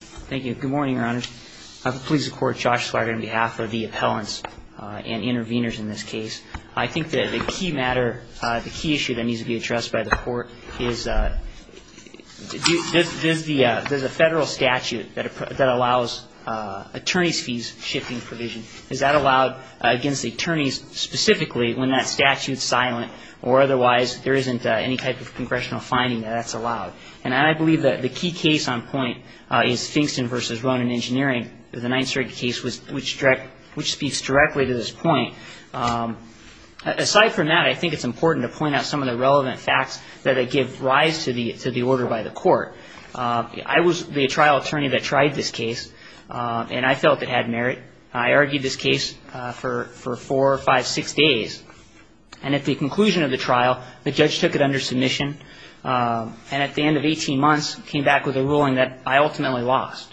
Thank you. Good morning, Your Honors. I have the pleas of court, Josh Slager, on behalf of the appellants and intervenors in this case. I think that the key matter, the key issue that needs to be addressed by the court is there's a federal statute that allows attorneys' fees shifting provision. Is that allowed against the attorneys specifically when that statute's silent or otherwise there isn't any type of engineering, the Ninth Circuit case, which speaks directly to this point. Aside from that, I think it's important to point out some of the relevant facts that give rise to the order by the court. I was the trial attorney that tried this case, and I felt it had merit. I argued this case for four, five, six days, and at the conclusion of the trial, the judge took it under submission, and at the end of 18 months, came back with a ruling that I ultimately lost.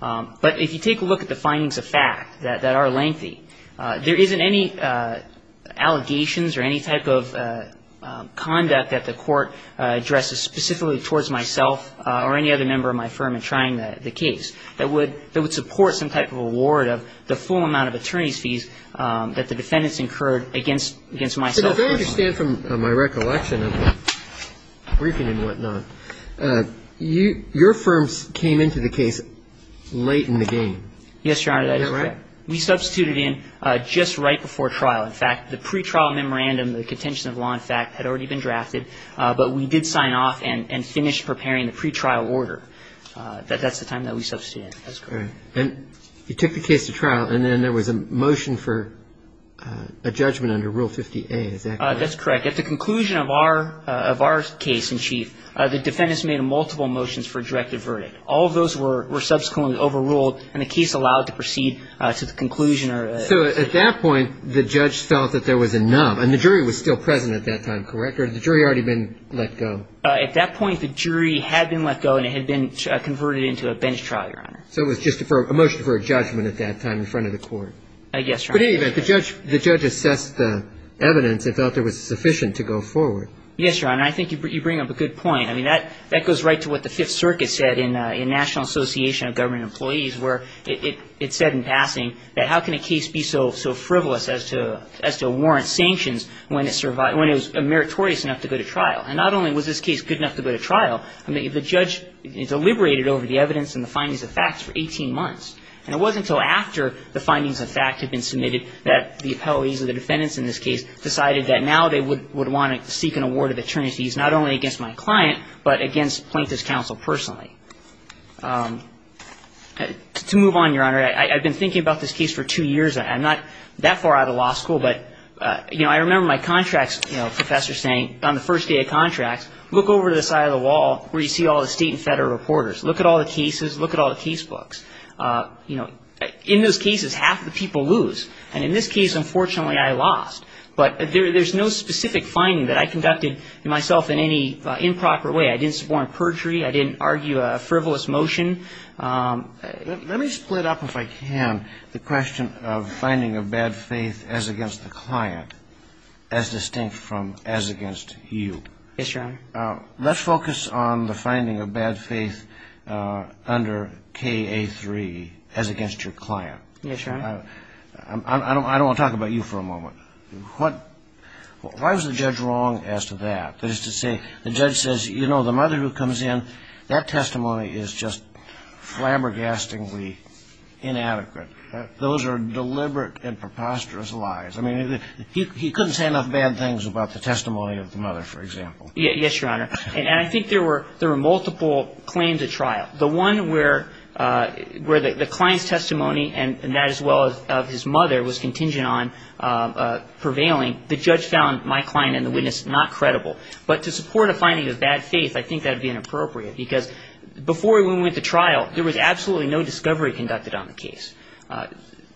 But if you take a look at the findings of fact that are lengthy, there isn't any allegations or any type of conduct that the court addresses specifically towards myself or any other member of my firm in trying the case that would support some type of reward of the full amount of attorneys' fees that the defendants incurred against myself. And if I understand from my recollection of the briefing and whatnot, your firm came into the case late in the game. Yes, Your Honor, that is correct. Is that right? We substituted in just right before trial. In fact, the pretrial memorandum, the contention of law, in fact, had already been drafted, but we did sign off and finished preparing the pretrial order. That's the time that we substituted in. And you took the case to trial, and then there was a motion for a judgment under Rule 50A. Is that correct? That's correct. At the conclusion of our case in chief, the defendants made multiple motions for a directive verdict. All of those were subsequently overruled, and the case allowed to proceed to the conclusion. So at that point, the judge felt that there was enough, and the jury was still present at that time, correct? Or had the jury already been let go? At that point, the jury had been let go, and it had been converted into a bench trial, Your Honor. So it was just a motion for a judgment at that time in front of the court. Yes, Your Honor. But in any event, the judge assessed the evidence and felt it was sufficient to go forward. Yes, Your Honor. I think you bring up a good point. I mean, that goes right to what the Fifth Circuit said in National Association of Government Employees, where it said in passing that how can a case be so frivolous as to warrant sanctions when it was meritorious enough to go to trial? And not only was this case good enough to go to trial, I mean, the judge deliberated over the evidence and the findings of facts for 18 months. And it wasn't until after the findings of facts had been submitted that the appellees or the defendants in this case decided that now they would want to seek an award of attorneys, not only against my client, but against Plaintiff's counsel personally. To move on, Your Honor, I've been thinking about this case for two years. I'm not that far out of law school, but, you know, I remember my contracts professor saying on the first day of contracts, look over to the side of the wall where you see all the state and federal reporters. Look at all the cases. Look at all the case books. You know, in those cases, half the people lose. And in this case, unfortunately, I lost. But there's no specific finding that I conducted myself in any improper way. I didn't support a perjury. I didn't argue a frivolous motion. Let me split up, if I can, the question of finding of bad faith as against the client as distinct from as against you. Yes, Your Honor. Let's focus on the finding of bad faith under K-A-3 as against your client. Yes, Your Honor. I don't want to talk about you for a moment. Why was the judge wrong as to that? That is to say, the judge says, you know, the mother who comes in, that testimony is just flabbergastingly inadequate. Those are deliberate and preposterous lies. I mean, he couldn't say enough bad things about the testimony of the mother, for example. Yes, Your Honor. And I think there were multiple claims at trial. The one where the client's testimony and that as well of his mother was contingent on prevailing, the judge found my client and the witness not credible. But to support a finding of bad faith, I think that would be inappropriate, because before we went to trial, there was absolutely no discovery conducted on the case.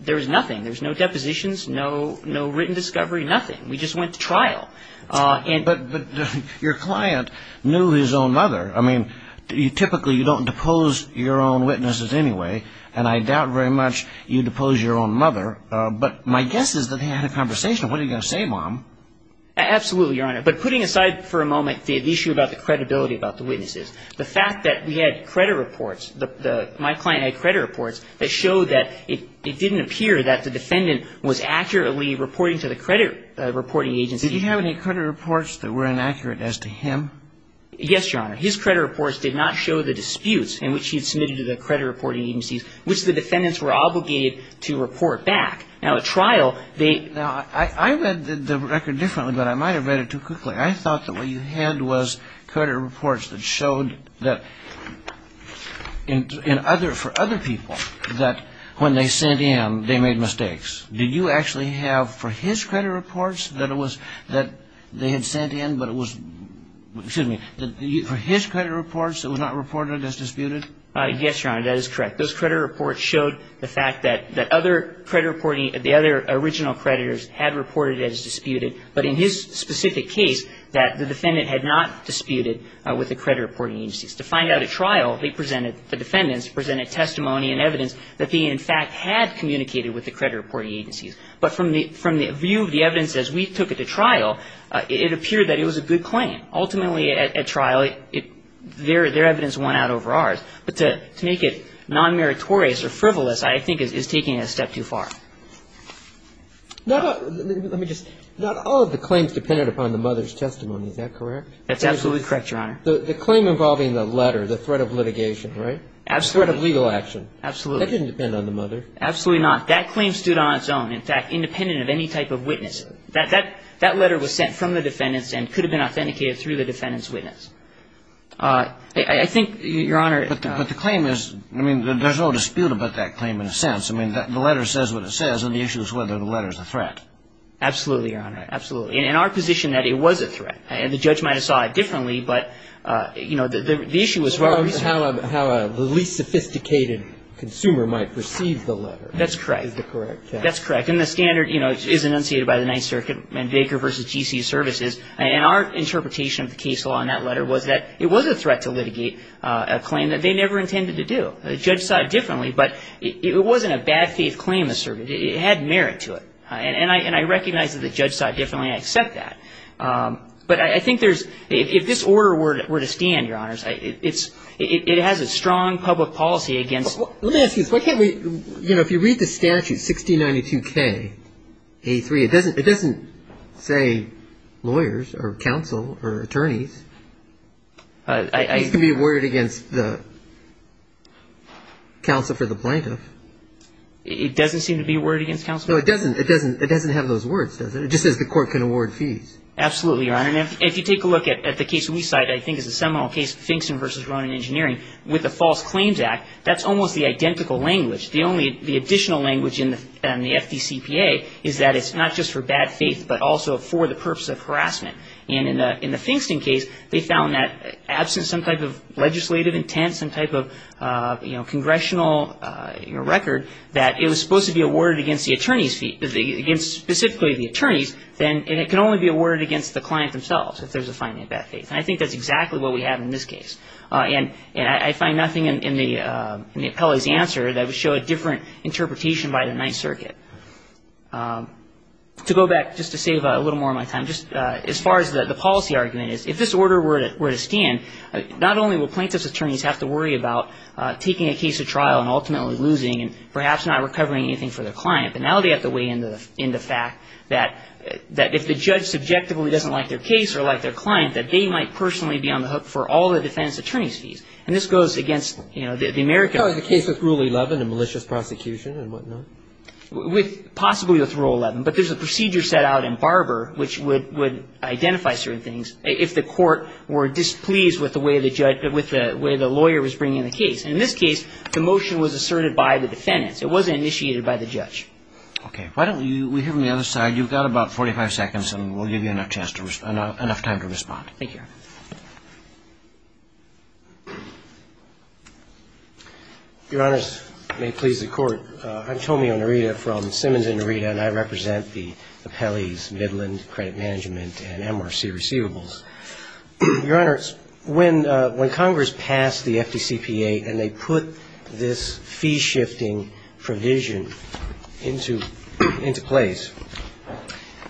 There was nothing. There was no depositions, no written discovery, nothing. We just went to trial. But your client knew his own mother. I mean, typically you don't depose your own witnesses anyway, and I doubt very much you depose your own mother. But my guess is that they had a conversation. What are you going to say, Mom? Absolutely, Your Honor. But putting aside for a moment the issue about the credibility about the witnesses, the fact that we had credit reports, my client had credit reports, that showed that it didn't appear that the defendant was accurately reporting to the credit reporting agency. Did he have any credit reports that were inaccurate as to him? Yes, Your Honor. His credit reports did not show the disputes in which he had submitted to the credit reporting agencies, which the defendants were obligated to report back. Now, at trial, they ---- Now, I read the record differently, but I might have read it too quickly. I thought that what you had was credit reports that showed that for other people, that when they sent in, they made mistakes. Did you actually have for his credit reports that they had sent in, but it was ---- excuse me, for his credit reports, it was not reported as disputed? Yes, Your Honor, that is correct. Those credit reports showed the fact that other credit reporting ---- the other original creditors had reported it as disputed, but in his specific case that the defendant had not disputed with the credit reporting agencies. To find out at trial, they presented, the defendants presented testimony and evidence that they, in fact, had communicated with the credit reporting agencies. But from the view of the evidence as we took it to trial, it appeared that it was a good claim. Ultimately, at trial, their evidence won out over ours. But to make it non-meritorious or frivolous, I think, is taking it a step too far. Now, let me just ---- not all of the claims depended upon the mother's testimony. Is that correct? That's absolutely correct, Your Honor. The claim involving the letter, the threat of litigation, right? Absolutely. The threat of legal action. Absolutely. That didn't depend on the mother. Absolutely not. That claim stood on its own, in fact, independent of any type of witness. That letter was sent from the defendants and could have been authenticated through the defendant's witness. I think, Your Honor ---- But the claim is, I mean, there's no dispute about that claim in a sense. I mean, the letter says what it says, and the issue is whether the letter is a threat. Absolutely, Your Honor. Absolutely. In our position, that it was a threat. The judge might have saw it differently, but, you know, the issue was ---- How a least sophisticated consumer might perceive the letter. That's correct. Is the correct case. That's correct. And the standard, you know, is enunciated by the Ninth Circuit and Baker v. G.C. Services. And our interpretation of the case law in that letter was that it was a threat to litigate a claim that they never intended to do. The judge saw it differently, but it wasn't a bad faith claim to serve. It had merit to it. And I recognize that the judge saw it differently and I accept that. But I think there's ---- If this order were to stand, Your Honors, it has a strong public policy against ---- Let me ask you this. Why can't we, you know, if you read the statute, 1692K, A3, it doesn't say lawyers or counsel or attorneys. It's going to be awarded against the counsel for the plaintiff. It doesn't seem to be awarded against counsel. No, it doesn't. It doesn't have those words, does it? It just says the court can award fees. Absolutely, Your Honor. And if you take a look at the case we cite, I think it's a seminal case, Finkston v. Ronan Engineering, with the False Claims Act, that's almost the identical language. The only ---- the additional language in the FDCPA is that it's not just for bad faith, but also for the purpose of harassment. And in the Finkston case, they found that absent some type of legislative intent, some type of, you know, congressional record, that it was supposed to be awarded against the attorney's fee, against specifically the attorneys, then it can only be awarded against the client themselves if there's a finding of bad faith. And I think that's exactly what we have in this case. And I find nothing in the appellee's answer that would show a different interpretation by the Ninth Circuit. To go back, just to save a little more of my time, just as far as the policy argument is, if this order were to stand, not only will plaintiff's attorneys have to worry about taking a case to trial and ultimately losing and perhaps not recovering anything for their client, but now they have to weigh in the fact that if the judge subjectively doesn't like their case or like their client, that they might personally be on the hook for all the defendant's attorney's fees. And this goes against, you know, the American... So is the case with Rule 11 a malicious prosecution and whatnot? Possibly with Rule 11, but there's a procedure set out in Barber which would identify certain things if the court were displeased with the way the lawyer was bringing the case. And in this case, the motion was asserted by the defendant. It wasn't initiated by the judge. Okay. Why don't we hear from the other side? You've got about 45 seconds, and we'll give you enough time to respond. Thank you, Your Honor. Your Honors, may it please the Court, I'm Tomio Narita from Simmons and Narita, and I represent the appellees Midland Credit Management and MRC Receivables. Your Honors, when Congress passed the FDCPA and they put this fee-shifting provision into place,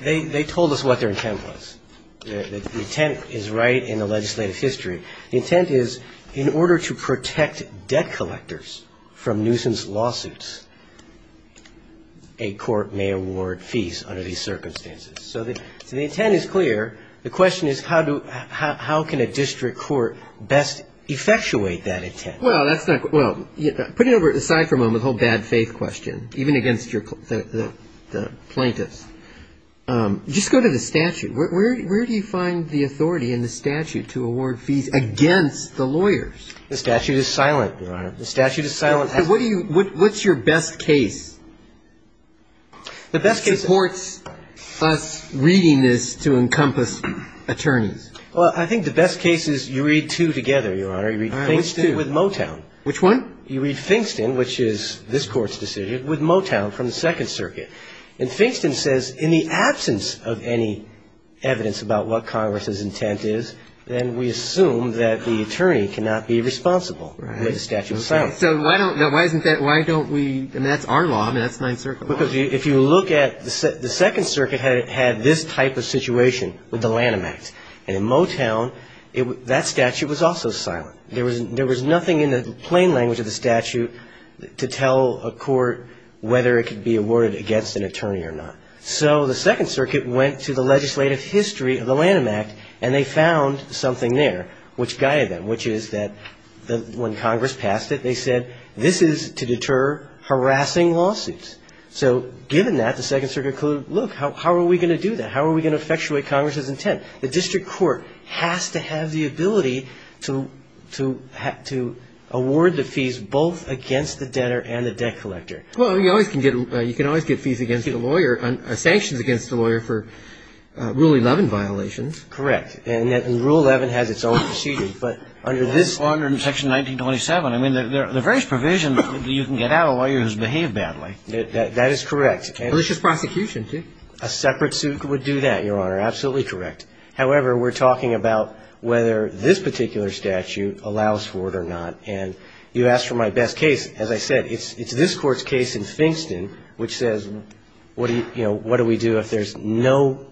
they told us what their intent was. The intent is right in the legislative history. The intent is in order to protect debt collectors from nuisance lawsuits, a court may award fees under these circumstances. So the intent is clear. The question is how can a district court best effectuate that intent? Well, that's not quite – well, put it aside for a moment, the whole bad faith question, even against the plaintiffs. Just go to the statute. Where do you find the authority in the statute to award fees against the lawyers? The statute is silent, Your Honor. The statute is silent. What's your best case? It supports us reading this to encompass attorneys. Well, I think the best case is you read two together, Your Honor. Which two? You read Fingston with Motown. Which one? You read Fingston, which is this Court's decision, with Motown from the Second Circuit. And Fingston says in the absence of any evidence about what Congress's intent is, then we assume that the attorney cannot be responsible with the statute of silence. So why don't we – I mean, that's our law. I mean, that's Ninth Circuit law. Because if you look at – the Second Circuit had this type of situation with the Lanham Act. And in Motown, that statute was also silent. There was nothing in the plain language of the statute to tell a court whether it could be awarded against an attorney or not. So the Second Circuit went to the legislative history of the Lanham Act, and they found something there which guided them, which is that when Congress passed it, they said this is to deter harassing lawsuits. So given that, the Second Circuit concluded, look, how are we going to do that? How are we going to effectuate Congress's intent? The district court has to have the ability to award the fees both against the debtor and the debt collector. Well, you can always get fees against a lawyer, sanctions against a lawyer for Rule 11 violations. Correct. And Rule 11 has its own procedure. But under this – Under Section 1927. I mean, there are various provisions that you can get out of lawyers who behave badly. That is correct. But it's just prosecution, too. A separate suit would do that, Your Honor. Absolutely correct. However, we're talking about whether this particular statute allows for it or not. And you asked for my best case. As I said, it's this Court's case in Fingston which says, you know, what do we do if there's no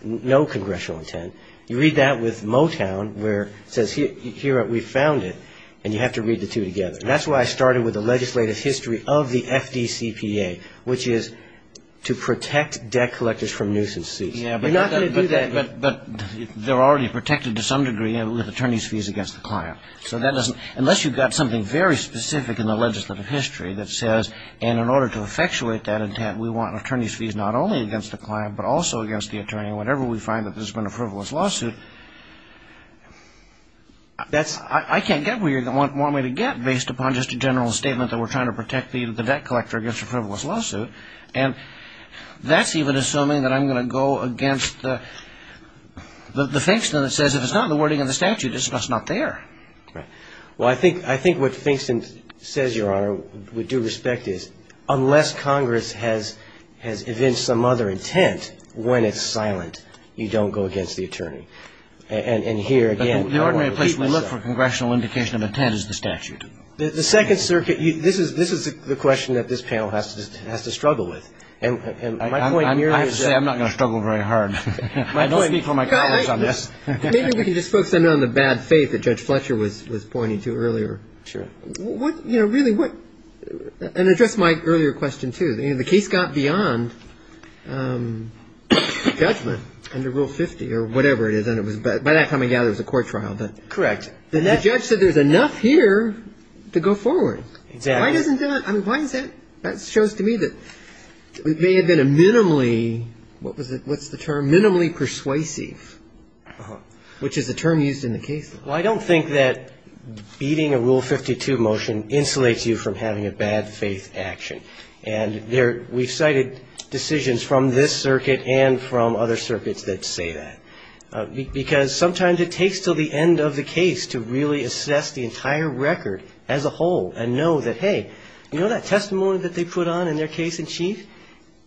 congressional intent? You read that with Motown where it says, here, we found it, and you have to read the two together. And that's why I started with the legislative history of the FDCPA, which is to protect debt collectors from nuisance fees. You're not going to do that. But they're already protected to some degree with attorney's fees against the client. So that doesn't – unless you've got something very specific in the legislative history that says, and in order to effectuate that intent, we want attorney's fees not only against the client, but also against the attorney whenever we find that there's been a frivolous lawsuit, I can't get where you want me to get based upon just a general statement that we're trying to protect the debt collector against a frivolous lawsuit. And that's even assuming that I'm going to go against the Fingston that says if it's not in the wording of the statute, it's just not there. Right. Well, I think what Fingston says, Your Honor, with due respect is unless Congress has evinced some other intent when it's silent, you don't go against the attorney. And here, again – The ordinary place we look for congressional indication of intent is the statute. The Second Circuit – this is the question that this panel has to struggle with. And my point – I have to say, I'm not going to struggle very hard. Don't speak for my colleagues on this. Maybe we can just focus on the bad faith that Judge Fletcher was pointing to earlier. Sure. You know, really what – and address my earlier question, too. The case got beyond judgment under Rule 50 or whatever it is. By that time, I gather, it was a court trial. Correct. The judge said there's enough here to go forward. Exactly. Why doesn't that – I mean, why is that – that shows to me that it may have been a minimally – what was it? What's the term? Minimally persuasive, which is a term used in the case. Well, I don't think that beating a Rule 52 motion insulates you from having a bad faith action. And we've cited decisions from this circuit and from other circuits that say that. Because sometimes it takes until the end of the case to really assess the entire record as a whole and know that, hey, you know that testimony that they put on in their case in chief?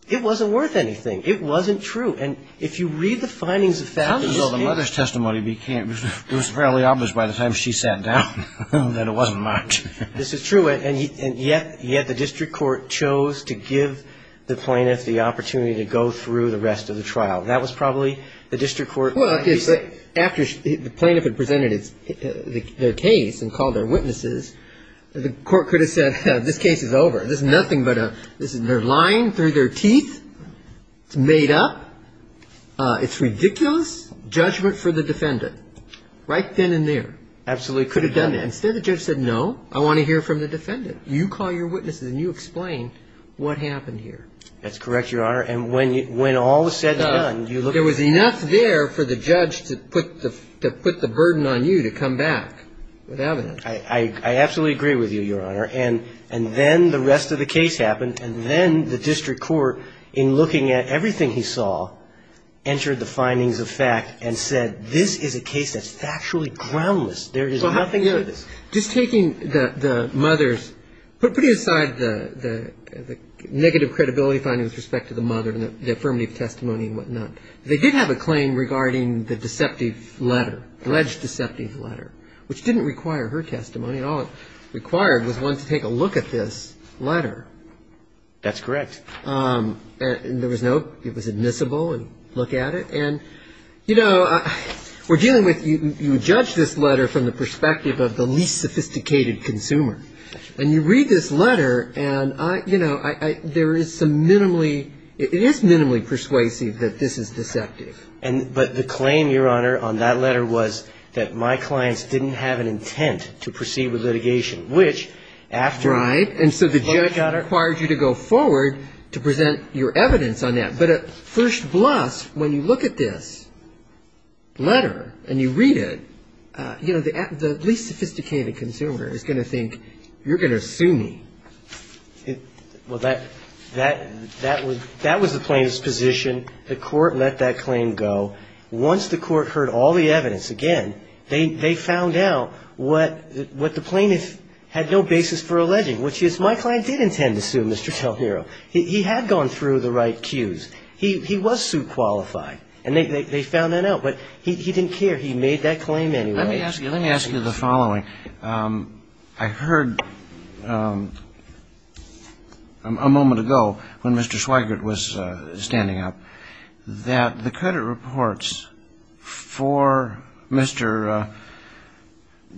It wasn't worth anything. It wasn't true. And if you read the findings of – How does all the mother's testimony be – it was fairly obvious by the time she sat down that it wasn't much. This is true. And yet the district court chose to give the plaintiff the opportunity to go through the rest of the trial. That was probably the district court – Well, after the plaintiff had presented their case and called their witnesses, the court could have said, this case is over. This is nothing but a – they're lying through their teeth. It's made up. It's ridiculous. Judgment for the defendant. Right then and there. Absolutely. Could have done that. Instead, the judge said, no, I want to hear from the defendant. You call your witnesses and you explain what happened here. That's correct, Your Honor. And when all was said and done, you look – There was enough there for the judge to put the burden on you to come back with evidence. I absolutely agree with you, Your Honor. And then the rest of the case happened. And then the district court, in looking at everything he saw, entered the findings of fact and said, this is a case that's factually groundless. There is nothing to this. Just taking the mother's – putting aside the negative credibility findings with respect to the mother and the affirmative testimony and whatnot, they did have a claim regarding the deceptive letter, alleged deceptive letter, which didn't require her testimony. All it required was one to take a look at this letter. That's correct. And there was no – it was admissible and look at it. And, you know, we're dealing with – you judge this letter from the perspective of the least sophisticated consumer. And you read this letter and, you know, there is some minimally – it is minimally persuasive that this is deceptive. But the claim, Your Honor, on that letter was that my clients didn't have an intent to proceed with litigation, which after – Right. And so the judge required you to go forward to present your evidence on that. But at first glance, when you look at this letter and you read it, you know, the least sophisticated consumer is going to think you're going to sue me. Well, that was the plaintiff's position. The court let that claim go. Once the court heard all the evidence again, they found out what the plaintiff had no basis for alleging, which is my client did intend to sue Mr. Del Niro. He had gone through the right cues. He was sue qualified. And they found that out. But he didn't care. He made that claim anyway. Let me ask you the following. I heard a moment ago when Mr. Schweigert was standing up that the credit reports for Mr.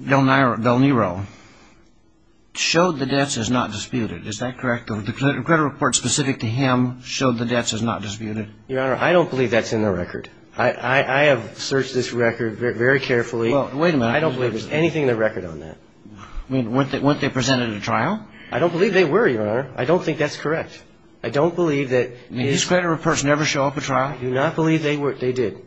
Del Niro showed the debts as not disputed. Is that correct? The credit report specific to him showed the debts as not disputed? Your Honor, I don't believe that's in the record. I have searched this record very carefully. Well, wait a minute. I don't believe there's anything in the record on that. I mean, weren't they presented at trial? I don't believe they were, Your Honor. I don't think that's correct. I don't believe that his – I mean, his credit reports never show up at trial? I do not believe they did.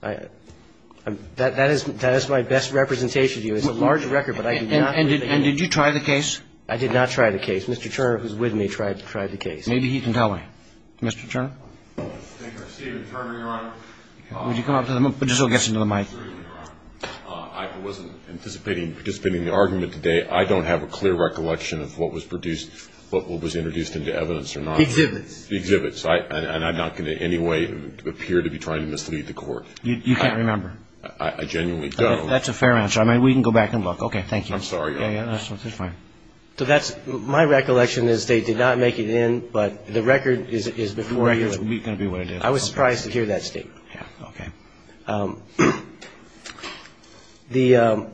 That is my best representation of you. It's a large record, but I do not believe it. And did you try the case? I did not try the case. Mr. Turner, who's with me, tried the case. Maybe he can tell me. Mr. Turner? Stephen Turner, Your Honor. Would you come up to the – just so he gets into the mic. I wasn't anticipating participating in the argument today. I don't have a clear recollection of what was produced, what was introduced into evidence or not. Exhibits. Exhibits. And I'm not going to in any way appear to be trying to mislead the Court. You can't remember? I genuinely don't. That's a fair answer. I mean, we can go back and look. Okay. Thank you. I'm sorry. Yeah, that's fine. So that's – my recollection is they did not make it in, but the record is before you. The record is going to be what it is. I was surprised to hear that statement. Yeah, okay. The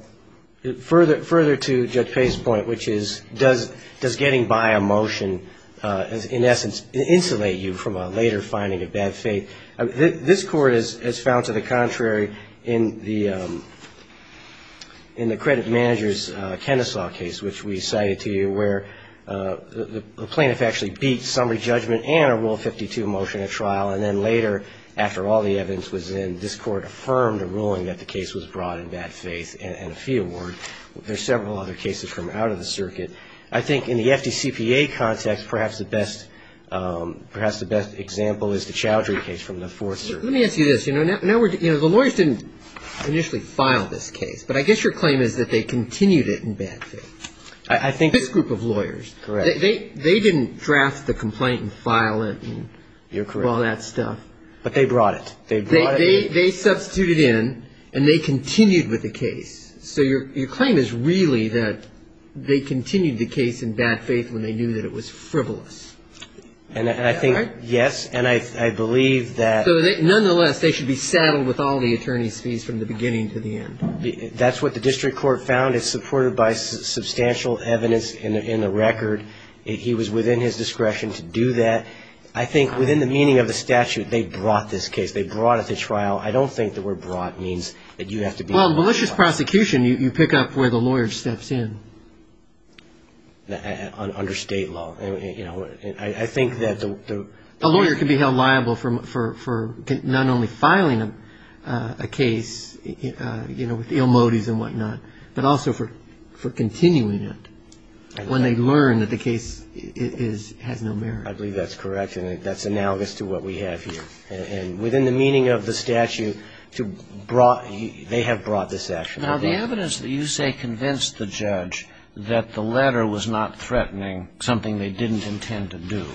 – further to Judge Payne's point, which is does getting by a motion in essence insulate you from a later finding of bad faith? This Court has found to the contrary in the credit manager's Kennesaw case, which we cited to you, where the plaintiff actually beat summary judgment and a Rule 52 motion at trial, and then later, after all the evidence was in, this Court affirmed a ruling that the case was brought in bad faith and a fee award. There are several other cases from out of the circuit. I think in the FDCPA context, perhaps the best example is the Chowdhury case from the fourth circuit. Let me ask you this. You know, the lawyers didn't initially file this case, but I guess your claim is that they continued it in bad faith. I think – This group of lawyers. Correct. They didn't draft the complaint and file it and all that stuff. You're correct. But they brought it. They brought it. They substituted in, and they continued with the case. So your claim is really that they continued the case in bad faith when they knew that it was frivolous. And I think, yes, and I believe that – So nonetheless, they should be saddled with all the attorney's fees from the beginning to the end. That's what the district court found. It's supported by substantial evidence in the record. He was within his discretion to do that. I think within the meaning of the statute, they brought this case. They brought it to trial. I don't think the word brought means that you have to be – Well, in malicious prosecution, you pick up where the lawyer steps in. Under state law. I think that the – A lawyer can be held liable for not only filing a case with ill motives and whatnot, but also for continuing it when they learn that the case has no merit. I believe that's correct, and that's analogous to what we have here. And within the meaning of the statute, they have brought this action. Now, the evidence that you say convinced the judge that the letter was not threatening something they didn't intend to do,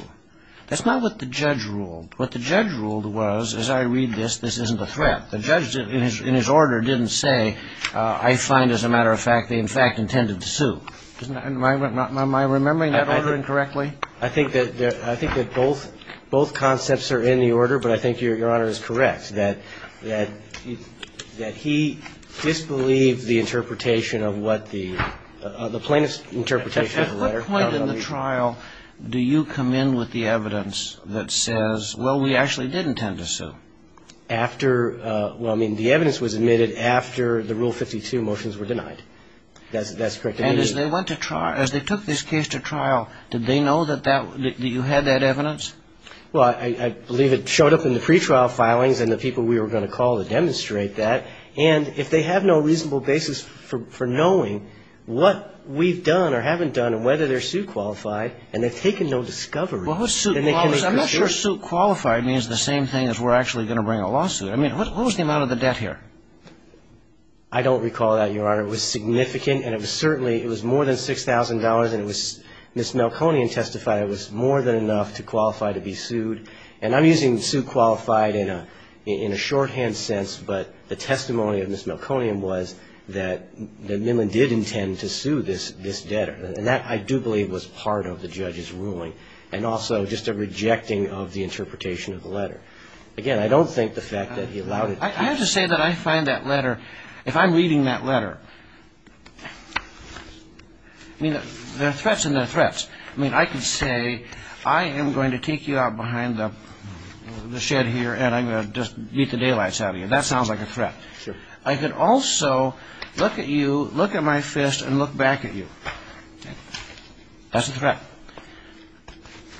that's not what the judge ruled. What the judge ruled was, as I read this, this isn't a threat. The judge, in his order, didn't say, I find, as a matter of fact, they, in fact, intended to sue. Am I remembering that order incorrectly? I think that both concepts are in the order, but I think Your Honor is correct, that he disbelieved the interpretation of what the – the plaintiff's interpretation of the letter. At what point in the trial do you come in with the evidence that says, well, we actually didn't intend to sue? After – well, I mean, the evidence was admitted after the Rule 52 motions were denied. That's correct. And as they went to trial – as they took this case to trial, did they know that that – that you had that evidence? Well, I believe it showed up in the pretrial filings and the people we were going to call to demonstrate that. And if they have no reasonable basis for knowing what we've done or haven't done and whether they're suit-qualified, and they've taken no discovery, then they can make a decision. Well, who's suit-qualified? I'm not sure suit-qualified means the same thing as we're actually going to bring a lawsuit. I mean, what was the amount of the debt here? I don't recall that, Your Honor. It was significant, and it was certainly – it was more than $6,000, and it was – Ms. Melconian testified it was more than enough to qualify to be sued. And I'm using suit-qualified in a – in a shorthand sense, but the testimony of Ms. Melconian was that – that Minlin did intend to sue this – this debtor. And that, I do believe, was part of the judge's ruling, and also just a rejecting of the interpretation of the letter. Again, I don't think the fact that he allowed it. I have to say that I find that letter – if I'm reading that letter, I mean, there are threats, and there are threats. I mean, I could say, I am going to take you out behind the shed here, and I'm going to just beat the daylights out of you. That sounds like a threat. Sure. I could also look at you, look at my fist, and look back at you. That's a threat.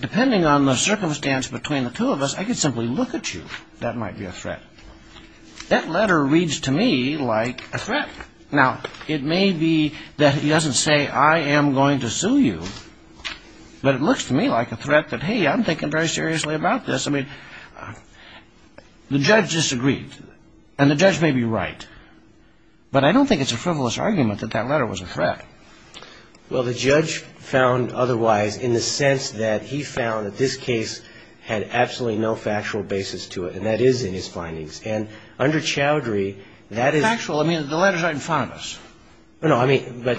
Depending on the circumstance between the two of us, I could simply look at you. That might be a threat. That letter reads to me like a threat. Now, it may be that it doesn't say, I am going to sue you, but it looks to me like a threat that, hey, I'm thinking very seriously about this. I mean, the judge disagreed, and the judge may be right, but I don't think it's a frivolous argument that that letter was a threat. Well, the judge found otherwise in the sense that he found that this case had absolutely no factual basis to it, and that is in his findings. And under Chowdhury, that is – Factual? I mean, the letter's right in front of us. No, I mean, but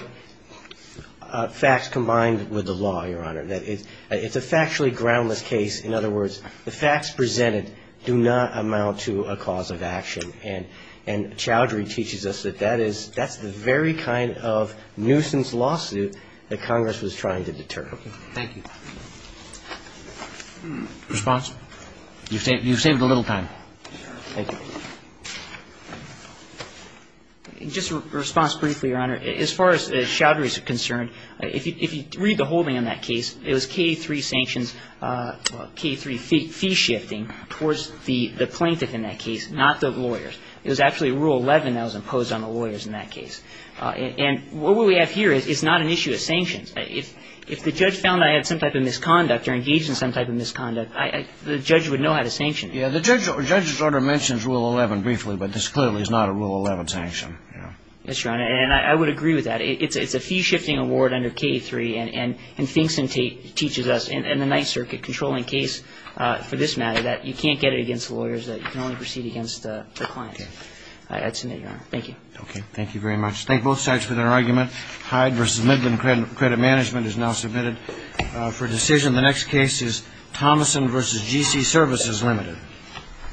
facts combined with the law, Your Honor. It's a factually groundless case. In other words, the facts presented do not amount to a cause of action. And Chowdhury teaches us that that is – that's the very kind of nuisance lawsuit that Congress was trying to deter. Okay. Thank you. Response? You've saved a little time. Thank you. Just a response briefly, Your Honor. As far as Chowdhury is concerned, if you read the holding on that case, it was K-3 sanctions – K-3 fee shifting towards the plaintiff in that case, not the lawyer. It was actually Rule 11 that was imposed on the lawyers in that case. And what we have here is not an issue of sanctions. If the judge found I had some type of misconduct or engaged in some type of misconduct, the judge would know how to sanction me. Yeah. The judge's order mentions Rule 11 briefly, but this clearly is not a Rule 11 sanction. Yes, Your Honor. And I would agree with that. It's a fee shifting award under K-3. Thank you very much. Thank both sides for their argument. Hyde v. Midland Credit Management is now submitted for decision. The next case is Thomason v. G.C. Services, Ltd. Thank you. Thank you.